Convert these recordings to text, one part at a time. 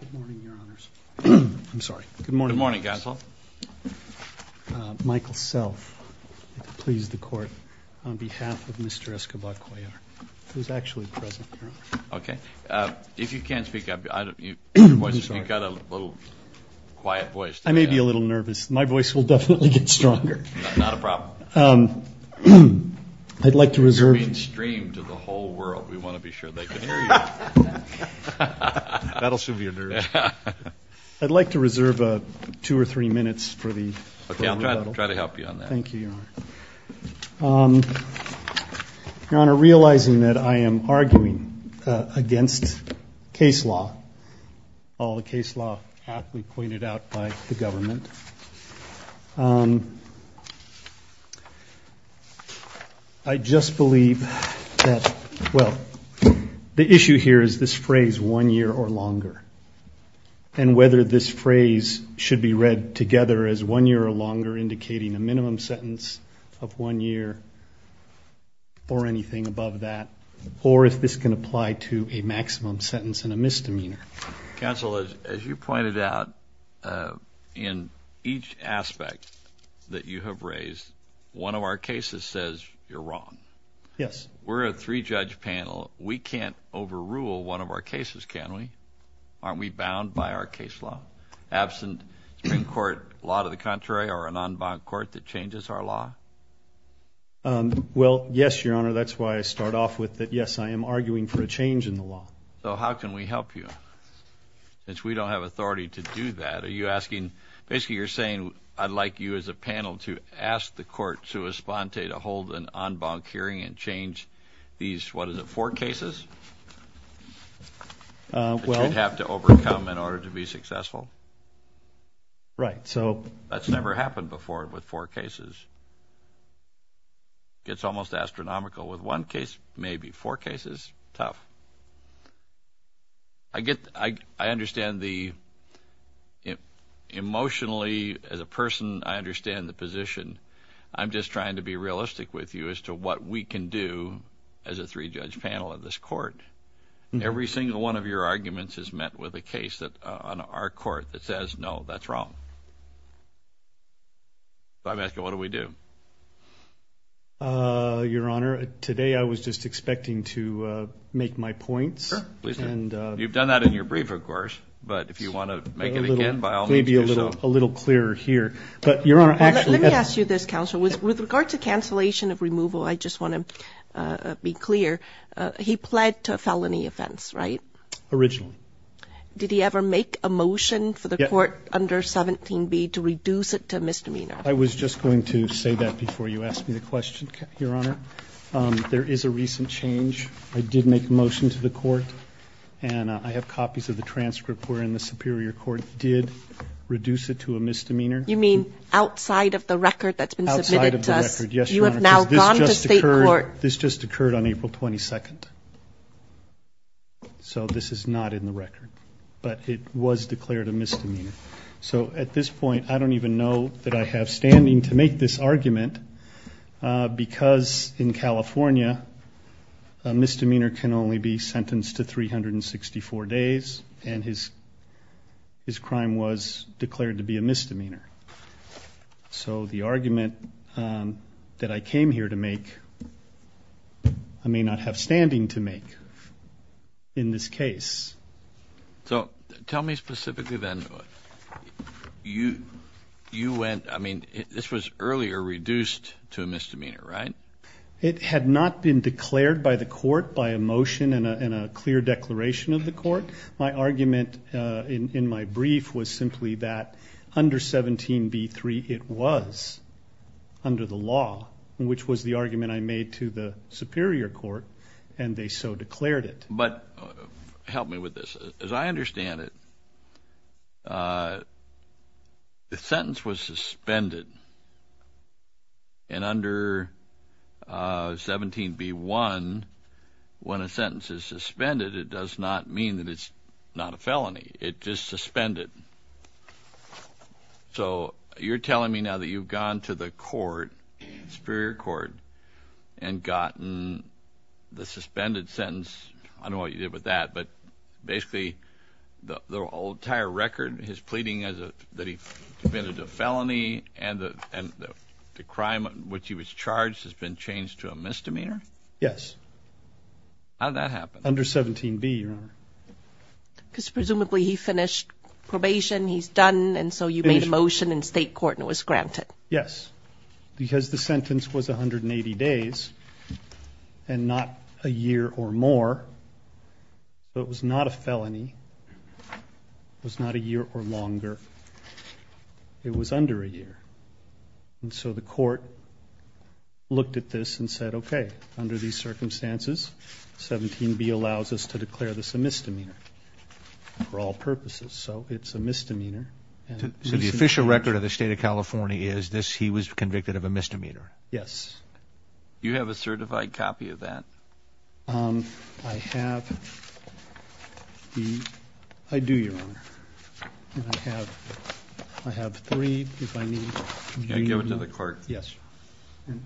Good morning, your honors. I'm sorry. Good morning. Good morning, counsel. Michael Self, please, the court, on behalf of Mr. Escobar-Cuellar, who is actually present here. Okay. If you can't speak up, you've got a little quiet voice. I may be a little nervous. My voice will definitely get stronger. Not a problem. I'd like to reserve. You're being streamed to the whole world. We want to be sure they can hear you. That'll soothe your nerves. I'd like to reserve two or three minutes for the rebuttal. Okay. I'll try to help you on that. Thank you, your honor. Your honor, realizing that I am arguing against case law, all the case law aptly pointed out by the government, I just believe that, well, the issue here is this phrase, one year or longer, and whether this phrase should be read together as one year or longer, indicating a minimum sentence of one year or anything above that, or if this can apply to a maximum sentence and a misdemeanor. Counsel, as you pointed out, in each aspect that you have raised, one of our cases says you're wrong. Yes. We're a three-judge panel. We can't overrule one of our cases, can we? Aren't we bound by our case law? Absent Supreme Court law to the contrary or a non-bound court that changes our law? Well, yes, your honor. That's why I start off with that, yes, I am arguing for a change in the law. So how can we help you? Since we don't have authority to do that, are you asking, basically you're saying I'd like you as a panel to ask the court, sua sponte, to hold an en banc hearing and change these, what is it, four cases? Well. That you'd have to overcome in order to be successful? Right, so. That's never happened before with four cases. It's almost astronomical. With one case, maybe four cases, tough. I understand the emotionally, as a person, I understand the position. I'm just trying to be realistic with you as to what we can do as a three-judge panel in this court. Every single one of your arguments is met with a case on our court that says, no, that's wrong. So I'm asking, what do we do? Your honor, today I was just expecting to make my points. Sure, please do. You've done that in your brief, of course, but if you want to make it again, by all means do so. Maybe a little clearer here. But, your honor, actually. Let me ask you this, counsel. With regard to cancellation of removal, I just want to be clear. He pled to a felony offense, right? Originally. Did he ever make a motion for the court under 17B to reduce it to a misdemeanor? I was just going to say that before you asked me the question, your honor. There is a recent change. I did make a motion to the court. And I have copies of the transcript wherein the superior court did reduce it to a misdemeanor. You mean outside of the record that's been submitted to us? Outside of the record, yes, your honor. Because this just occurred on April 22nd. So, this is not in the record. But it was declared a misdemeanor. So, at this point, I don't even know that I have standing to make this argument. Because in California, a misdemeanor can only be sentenced to 364 days. And his crime was declared to be a misdemeanor. So, the argument that I came here to make, I may not have standing to make in this case. So, tell me specifically then, you went, I mean, this was earlier reduced to a misdemeanor, right? It had not been declared by the court by a motion and a clear declaration of the court. My argument in my brief was simply that under 17b-3, it was under the law, which was the argument I made to the superior court, and they so declared it. But help me with this. As I understand it, the sentence was suspended. And under 17b-1, when a sentence is suspended, it does not mean that it's not a felony. It's just suspended. So, you're telling me now that you've gone to the court, superior court, and gotten the suspended sentence. I don't know what you did with that. But basically, the entire record, his pleading that he committed a felony, and the crime in which he was charged has been changed to a misdemeanor? Yes. How did that happen? Under 17b, Your Honor. Because presumably he finished probation, he's done, and so you made a motion in state court and it was granted. Yes. Because the sentence was 180 days and not a year or more, so it was not a felony. It was not a year or longer. It was under a year. And so the court looked at this and said, okay, under these circumstances, 17b allows us to declare this a misdemeanor for all purposes. So it's a misdemeanor. So the official record of the State of California is he was convicted of a misdemeanor? Yes. Do you have a certified copy of that? I have. I do, Your Honor. And I have three, if I need. Can I give it to the court? Yes.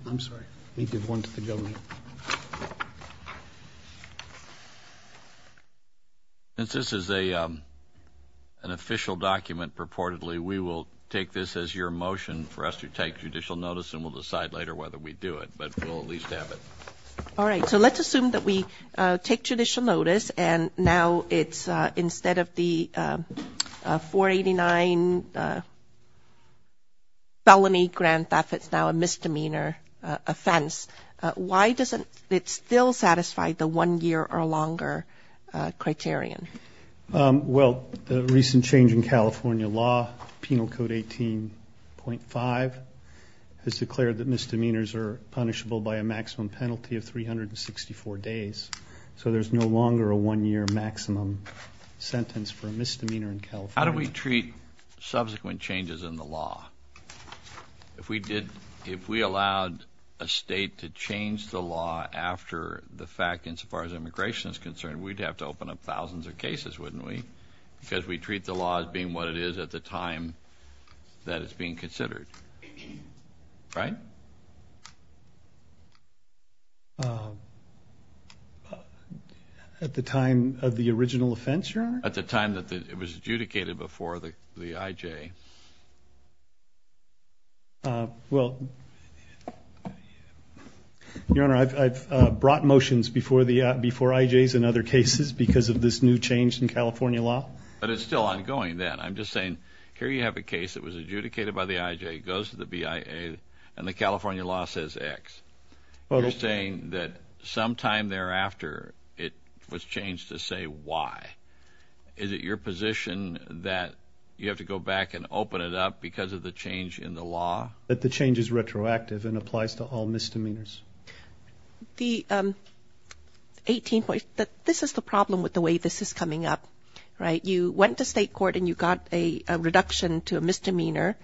I'm sorry. Let me give one to the government. Thank you. Since this is an official document, purportedly, we will take this as your motion for us to take judicial notice and we'll decide later whether we do it, but we'll at least have it. All right, so let's assume that we take judicial notice and now it's instead of the 489 felony grand theft, it's now a misdemeanor offense. Why doesn't it still satisfy the one year or longer criterion? Well, the recent change in California law, Penal Code 18.5, has declared that misdemeanors are punishable by a maximum penalty of 364 days. So there's no longer a one year maximum sentence for a misdemeanor in California. How do we treat subsequent changes in the law? If we allowed a state to change the law after the fact insofar as immigration is concerned, we'd have to open up thousands of cases, wouldn't we? Because we treat the law as being what it is at the time that it's being considered. Right? At the time of the original offense, Your Honor? At the time that it was adjudicated before the IJ. Well, Your Honor, I've brought motions before IJs and other cases because of this new change in California law. But it's still ongoing then. I'm just saying here you have a case that was adjudicated by the IJ, goes to the BIA, and the California law says X. You're saying that sometime thereafter it was changed to say Y. Is it your position that you have to go back and open it up because of the change in the law? That the change is retroactive and applies to all misdemeanors. The 18.5, this is the problem with the way this is coming up. Right? You went to state court and you got a reduction to a misdemeanor.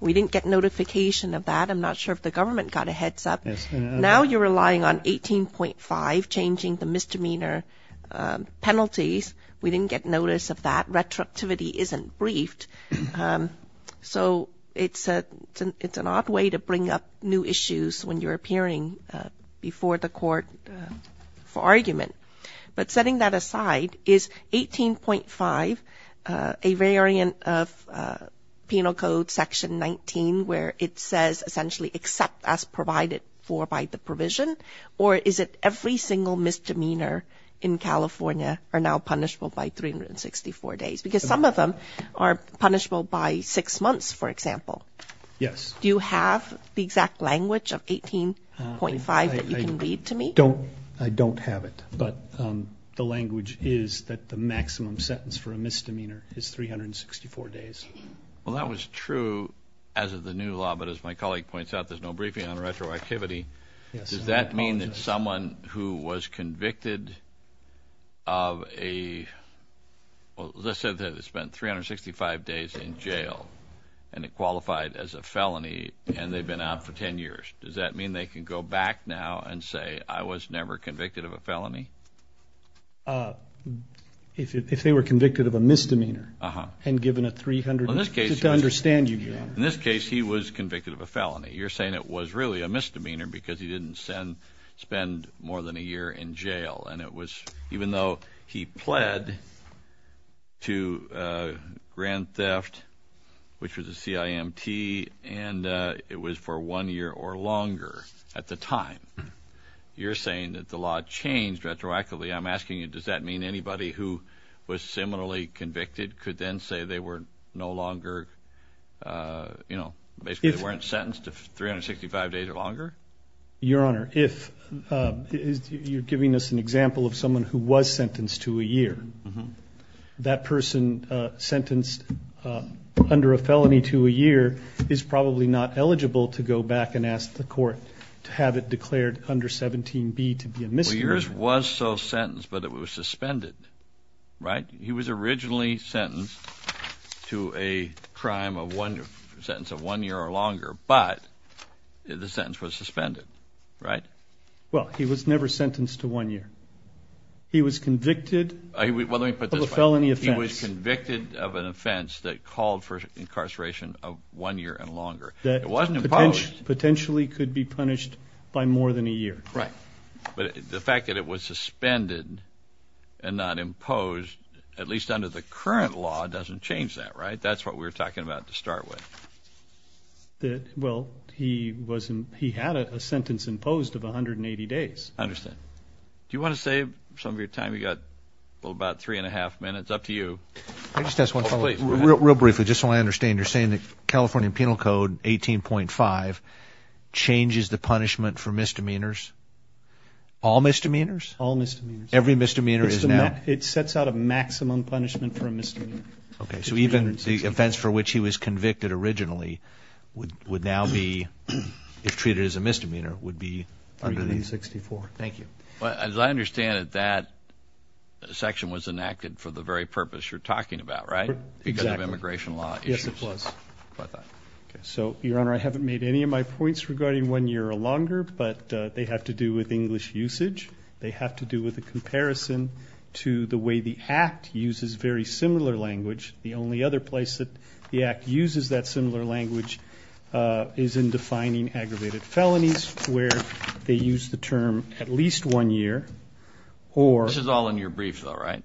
We didn't get notification of that. I'm not sure if the government got a heads up. Now you're relying on 18.5, changing the misdemeanor penalties. We didn't get notice of that. Retroactivity isn't briefed. So it's an odd way to bring up new issues when you're appearing before the court for argument. But setting that aside, is 18.5 a variant of penal code section 19 where it says essentially accept as provided for by the provision? Or is it every single misdemeanor in California are now punishable by 364 days? Because some of them are punishable by six months, for example. Yes. Do you have the exact language of 18.5 that you can read to me? I don't have it. But the language is that the maximum sentence for a misdemeanor is 364 days. Well, that was true as of the new law. But as my colleague points out, there's no briefing on retroactivity. Does that mean that someone who was convicted of a 365 days in jail and it qualified as a felony and they've been out for 10 years, does that mean they can go back now and say, I was never convicted of a felony? If they were convicted of a misdemeanor and given a 300 days, just to understand you, Your Honor. In this case, he was convicted of a felony. You're saying it was really a misdemeanor because he didn't spend more than a year in jail. Even though he pled to grand theft, which was a CIMT, and it was for one year or longer at the time. You're saying that the law changed retroactively. I'm asking you, does that mean anybody who was similarly convicted could then say they were no longer, you know, basically they weren't sentenced to 365 days or longer? Your Honor, if you're giving us an example of someone who was sentenced to a year, that person sentenced under a felony to a year is probably not eligible to go back and ask the court to have it declared under 17B to be a misdemeanor. Well, yours was so sentenced, but it was suspended, right? He was originally sentenced to a crime of one year or longer, but the sentence was suspended, right? Well, he was never sentenced to one year. He was convicted of a felony offense. He was convicted of an offense that called for incarceration of one year and longer. It wasn't imposed. Potentially could be punished by more than a year. Right. But the fact that it was suspended and not imposed, at least under the current law, doesn't change that, right? That's what we were talking about to start with. Well, he had a sentence imposed of 180 days. I understand. Do you want to save some of your time? You've got about three and a half minutes. Up to you. I just have one follow-up. Real briefly, just so I understand. You're saying the California Penal Code, 18.5, changes the punishment for misdemeanors? All misdemeanors? All misdemeanors. Every misdemeanor is now? It sets out a maximum punishment for a misdemeanor. Okay. So even the offense for which he was convicted originally would now be, if treated as a misdemeanor, would be? 364. Thank you. As I understand it, that section was enacted for the very purpose you're talking about, right? Exactly. Because of immigration law issues. Yes, it was. Okay. So, Your Honor, I haven't made any of my points regarding one year or longer, but they have to do with English usage. They have to do with a comparison to the way the Act uses very similar language. The only other place that the Act uses that similar language is in defining aggravated felonies, where they use the term at least one year. This is all in your brief, though, right?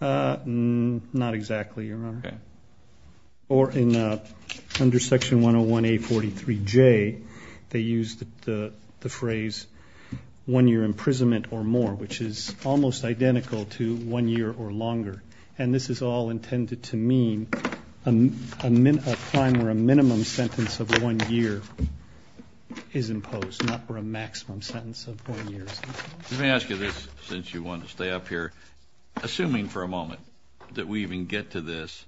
Not exactly, Your Honor. Okay. Or under Section 101A43J, they use the phrase one year imprisonment or more, which is almost identical to one year or longer. And this is all intended to mean a time where a minimum sentence of one year is imposed, not where a maximum sentence of one year is imposed. Let me ask you this, since you want to stay up here. Assuming for a moment that we even get to this,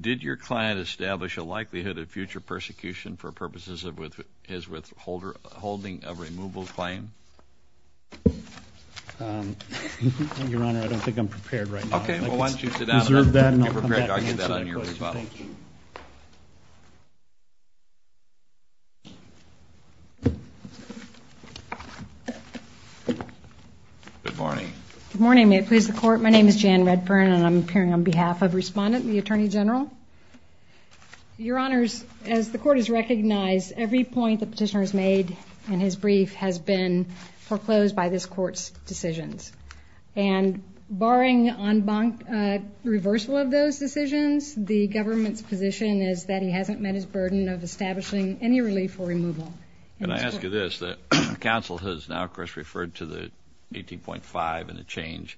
did your client establish a likelihood of future persecution for purposes of his withholding a removal claim? Your Honor, I don't think I'm prepared right now. Okay. Well, why don't you sit down? Reserve that and I'll come back and answer that question. Thank you. Good morning. Good morning. May it please the Court. My name is Jan Redburn, and I'm appearing on behalf of Respondent and the Attorney General. Your Honors, as the Court has recognized, every point the Petitioner has made in his brief has been foreclosed by this Court's decisions. And barring reversal of those decisions, the government's position is that he hasn't met his burden of establishing any relief or removal. Can I ask you this? The counsel has now, of course, referred to the 18.5 and the change.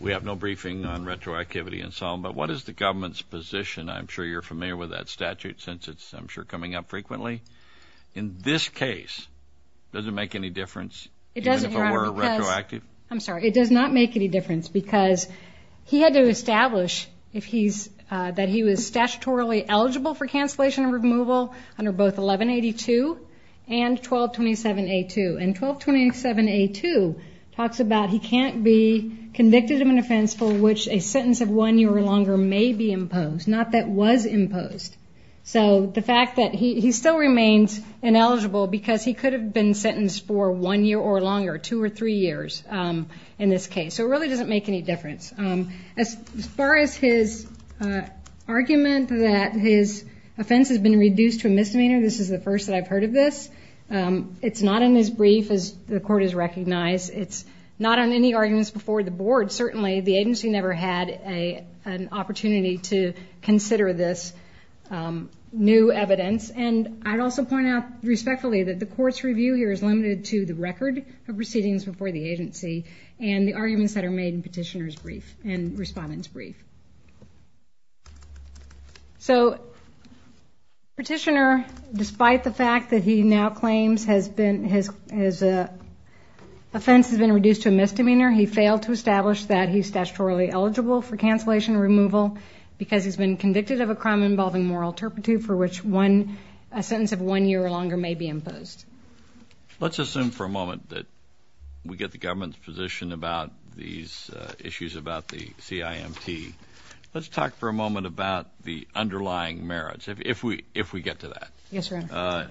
We have no briefing on retroactivity and so on, but what is the government's position? I'm sure you're familiar with that statute since it's, I'm sure, coming up frequently. In this case, does it make any difference even if it were retroactive? I'm sorry. It does not make any difference because he had to establish that he was statutorily eligible for cancellation of removal under both 1182 and 1227A2. And 1227A2 talks about he can't be convicted of an offense for which a sentence of one year or longer may be imposed, not that was imposed. So the fact that he still remains ineligible because he could have been sentenced for one year or longer, two or three years in this case. So it really doesn't make any difference. As far as his argument that his offense has been reduced to a misdemeanor, this is the first that I've heard of this. It's not in his brief, as the Court has recognized. But certainly the agency never had an opportunity to consider this new evidence. And I'd also point out respectfully that the Court's review here is limited to the record of proceedings before the agency and the arguments that are made in Petitioner's brief and Respondent's brief. So Petitioner, despite the fact that he now claims his offense has been reduced to a misdemeanor, he failed to establish that he's statutorily eligible for cancellation removal because he's been convicted of a crime involving moral turpitude for which a sentence of one year or longer may be imposed. Let's assume for a moment that we get the government's position about these issues about the CIMT. Let's talk for a moment about the underlying merits, if we get to that. Yes, Your Honor.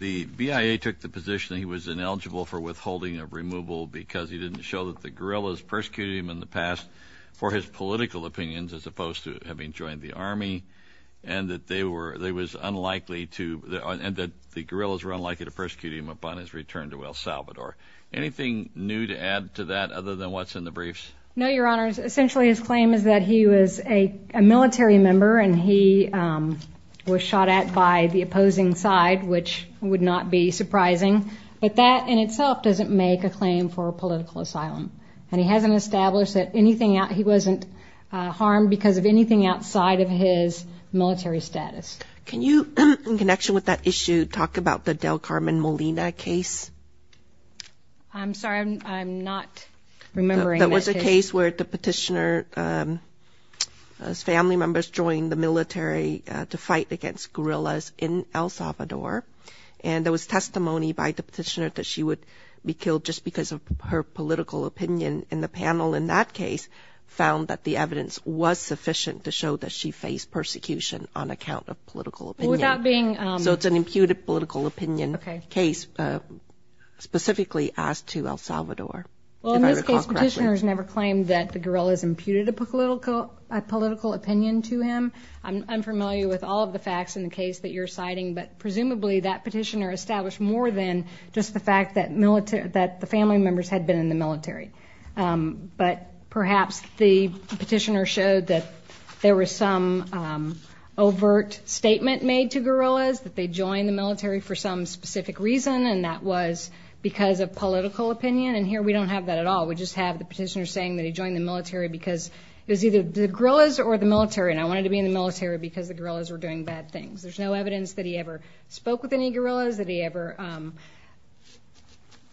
The BIA took the position that he was ineligible for withholding of removal because he didn't show that the guerrillas persecuted him in the past for his political opinions as opposed to having joined the Army and that the guerrillas were unlikely to persecute him upon his return to El Salvador. Anything new to add to that other than what's in the briefs? No, Your Honor. Essentially his claim is that he was a military member and he was shot at by the opposing side, which would not be surprising. But that in itself doesn't make a claim for political asylum. And he hasn't established that he wasn't harmed because of anything outside of his military status. Can you, in connection with that issue, talk about the Del Carmen Molina case? I'm sorry, I'm not remembering that case. It's a case where the petitioner's family members joined the military to fight against guerrillas in El Salvador. And there was testimony by the petitioner that she would be killed just because of her political opinion. And the panel in that case found that the evidence was sufficient to show that she faced persecution on account of political opinion. So it's an imputed political opinion case specifically as to El Salvador, if I recall correctly. The petitioner's never claimed that the guerrillas imputed a political opinion to him. I'm familiar with all of the facts in the case that you're citing, but presumably that petitioner established more than just the fact that the family members had been in the military. But perhaps the petitioner showed that there was some overt statement made to guerrillas, that they joined the military for some specific reason, and that was because of political opinion. And here we don't have that at all. We just have the petitioner saying that he joined the military because it was either the guerrillas or the military, and I wanted to be in the military because the guerrillas were doing bad things. There's no evidence that he ever spoke with any guerrillas, that he ever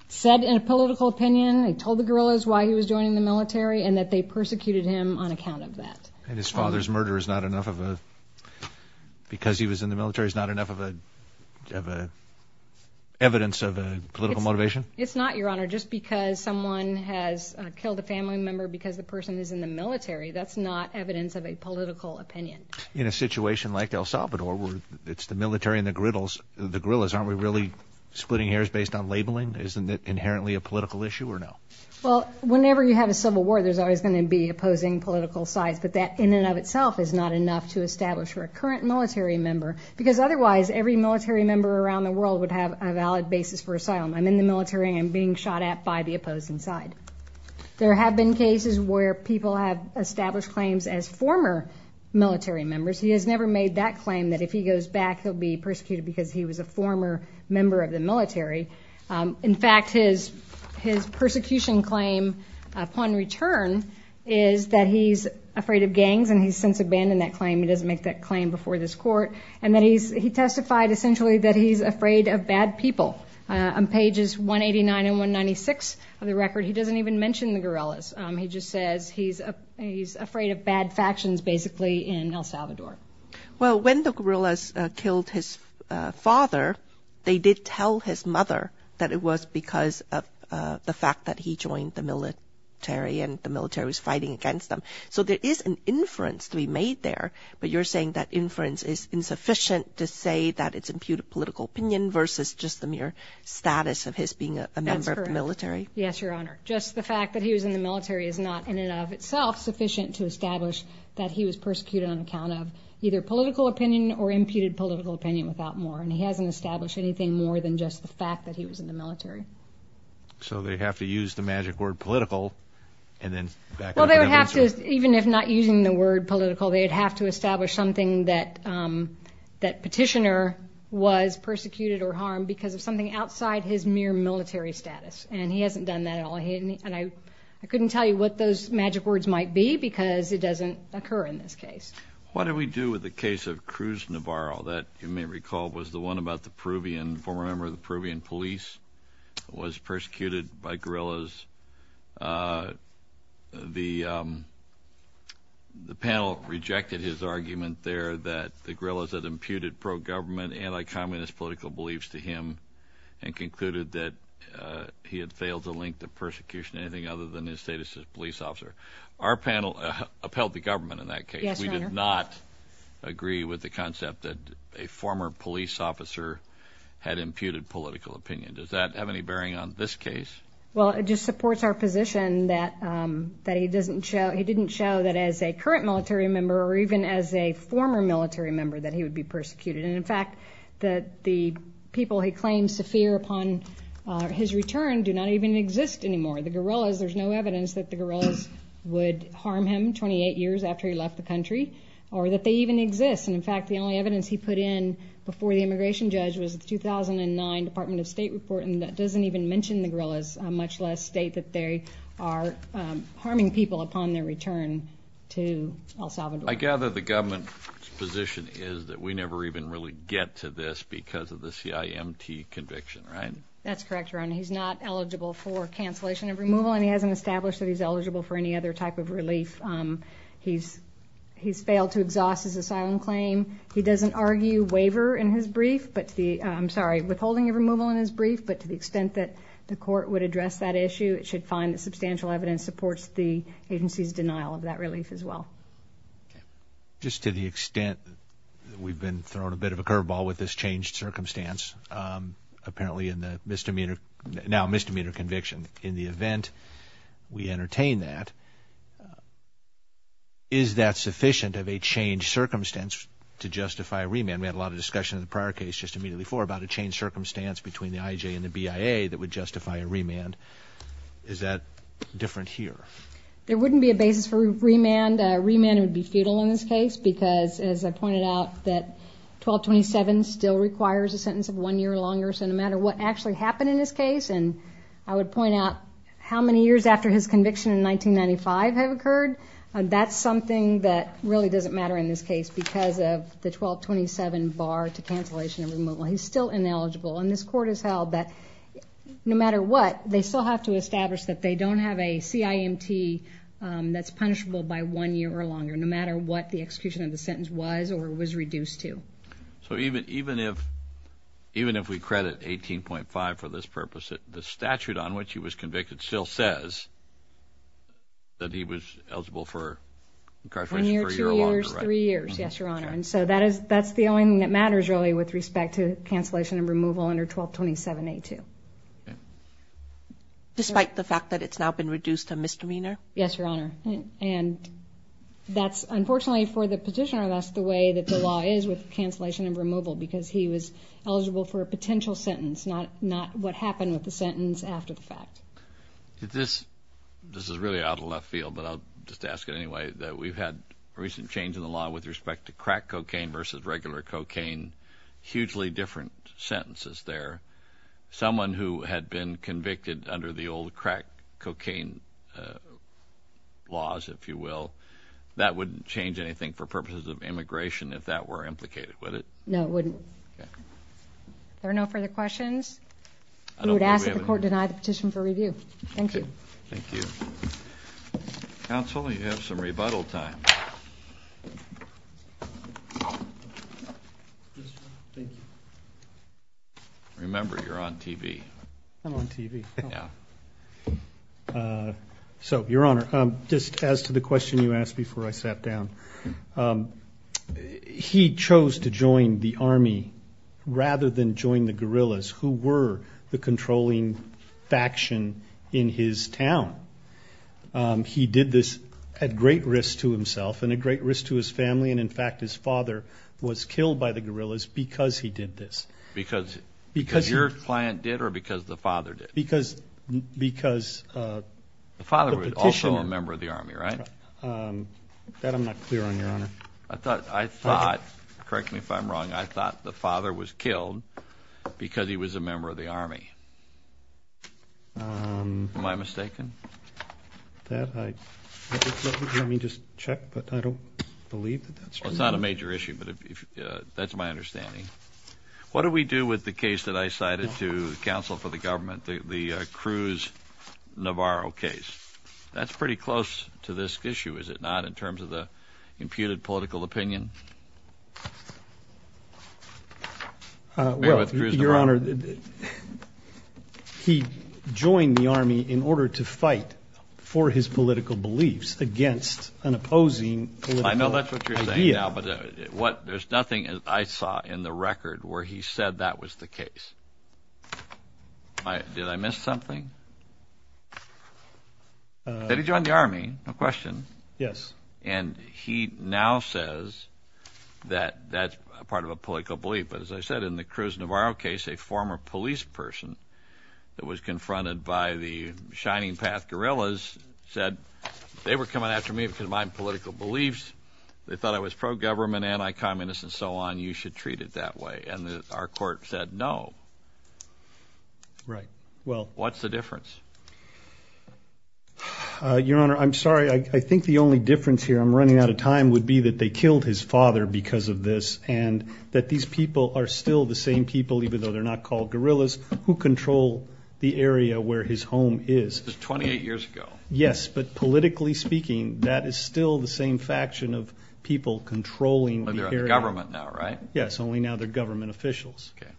said in a political opinion and told the guerrillas why he was joining the military, and that they persecuted him on account of that. And his father's murder is not enough of a – because he was in the military is not enough of an evidence of a political motivation? It's not, Your Honor. Just because someone has killed a family member because the person is in the military, that's not evidence of a political opinion. In a situation like El Salvador where it's the military and the guerrillas, aren't we really splitting hairs based on labeling? Isn't it inherently a political issue or no? Well, whenever you have a civil war, there's always going to be opposing political sides, but that in and of itself is not enough to establish you're a current military member because otherwise every military member around the world would have a valid basis for asylum. I'm in the military and I'm being shot at by the opposing side. There have been cases where people have established claims as former military members. He has never made that claim that if he goes back he'll be persecuted because he was a former member of the military. In fact, his persecution claim upon return is that he's afraid of gangs and he's since abandoned that claim. He doesn't make that claim before this court. He testified essentially that he's afraid of bad people. On pages 189 and 196 of the record, he doesn't even mention the guerrillas. He just says he's afraid of bad factions basically in El Salvador. Well, when the guerrillas killed his father, they did tell his mother that it was because of the fact that he joined the military and the military was fighting against them. So there is an inference to be made there, but you're saying that inference is insufficient to say that it's imputed political opinion versus just the mere status of his being a member of the military? That's correct. Yes, Your Honor. Just the fact that he was in the military is not in and of itself sufficient to establish that he was persecuted on account of either political opinion or imputed political opinion without more, and he hasn't established anything more than just the fact that he was in the military. So they have to use the magic word political and then back to the military. Well, they would have to, even if not using the word political, they would have to establish something that petitioner was persecuted or harmed because of something outside his mere military status, and he hasn't done that at all. And I couldn't tell you what those magic words might be because it doesn't occur in this case. What did we do with the case of Cruz Navarro? That, you may recall, was the one about the Peruvian, former member of the Peruvian police was persecuted by guerrillas. The panel rejected his argument there that the guerrillas had imputed pro-government, anti-communist political beliefs to him and concluded that he had failed to link the persecution to anything other than his status as a police officer. Our panel upheld the government in that case. Yes, Your Honor. We did not agree with the concept that a former police officer had imputed political opinion. Does that have any bearing on this case? Well, it just supports our position that he didn't show that as a current military member or even as a former military member that he would be persecuted. And, in fact, that the people he claims to fear upon his return do not even exist anymore. The guerrillas, there's no evidence that the guerrillas would harm him 28 years after he left the country or that they even exist. And, in fact, the only evidence he put in before the immigration judge was the 2009 Department of State report, and that doesn't even mention the guerrillas, much less state that they are harming people upon their return to El Salvador. I gather the government's position is that we never even really get to this because of the CIMT conviction, right? That's correct, Your Honor. He's not eligible for cancellation of removal, and he hasn't established that he's eligible for any other type of relief. He's failed to exhaust his asylum claim. He doesn't argue waiver in his brief, I'm sorry, withholding of removal in his brief, but to the extent that the court would address that issue, it should find that substantial evidence supports the agency's denial of that relief as well. Just to the extent that we've been thrown a bit of a curveball with this changed circumstance, apparently in the now misdemeanor conviction, in the event we entertain that, is that sufficient of a changed circumstance to justify a remand? We had a lot of discussion in the prior case just immediately before about a changed circumstance between the IJ and the BIA that would justify a remand. Is that different here? There wouldn't be a basis for remand. A remand would be futile in this case because, as I pointed out, that 1227 still requires a sentence of one year or longer, so no matter what actually happened in this case, and I would point out how many years after his conviction in 1995 have occurred, that's something that really doesn't matter in this case because of the 1227 bar to cancellation of removal. He's still ineligible, and this court has held that no matter what, they still have to establish that they don't have a CIMT that's punishable by one year or longer, no matter what the execution of the sentence was or was reduced to. So even if we credit 18.5 for this purpose, the statute on which he was convicted still says that he was eligible for incarceration for a year or longer, right? One year, two years, three years, yes, Your Honor. And so that's the only thing that matters, really, with respect to cancellation and removal under 1227A2. Despite the fact that it's now been reduced to misdemeanor? Yes, Your Honor. And that's, unfortunately for the petitioner, that's the way that the law is with cancellation and removal because he was eligible for a potential sentence, not what happened with the sentence after the fact. This is really out of left field, but I'll just ask it anyway, that we've had a recent change in the law with respect to crack cocaine versus regular cocaine, hugely different sentences there. Someone who had been convicted under the old crack cocaine laws, if you will, that wouldn't change anything for purposes of immigration if that were implicated, would it? No, it wouldn't. Are there no further questions? We would ask that the court deny the petition for review. Thank you. Thank you. Counsel, you have some rebuttal time. Yes, Your Honor. Thank you. Remember, you're on TV. I'm on TV. Yeah. So, Your Honor, just as to the question you asked before I sat down, he chose to join the Army rather than join the guerrillas who were the controlling faction in his town. He did this at great risk to himself and at great risk to his family, and, in fact, his father was killed by the guerrillas because he did this. Because your client did or because the father did? Because the petitioner. The father was also a member of the Army, right? That I'm not clear on, Your Honor. I thought, correct me if I'm wrong, I thought the father was killed because he was a member of the Army. Am I mistaken? Let me just check, but I don't believe that that's true. Well, it's not a major issue, but that's my understanding. What do we do with the case that I cited to counsel for the government, the Cruz-Navarro case? That's pretty close to this issue, is it not, in terms of the imputed political opinion? Well, Your Honor, he joined the Army in order to fight for his political beliefs against an opposing political idea. I know that's what you're saying now, but there's nothing I saw in the record where he said that was the case. Did I miss something? He said he joined the Army, no question. Yes. And he now says that that's part of a political belief. But as I said, in the Cruz-Navarro case, a former police person that was confronted by the Shining Path guerrillas said, they were coming after me because of my political beliefs. They thought I was pro-government, anti-communist, and so on. You should treat it that way. And our court said no. Right. What's the difference? Your Honor, I'm sorry, I think the only difference here, I'm running out of time, would be that they killed his father because of this, and that these people are still the same people, even though they're not called guerrillas, who control the area where his home is. That's 28 years ago. Yes, but politically speaking, that is still the same faction of people controlling the area. They're under government now, right? Yes, only now they're government officials. Okay.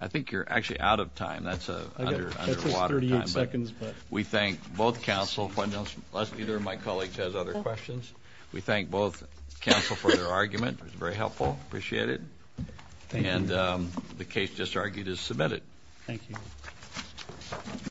I think you're actually out of time. That's under a lot of time. We thank both counsel, unless either of my colleagues has other questions. We thank both counsel for their argument. It was very helpful. Appreciate it. And the case just argued is submitted. Thank you.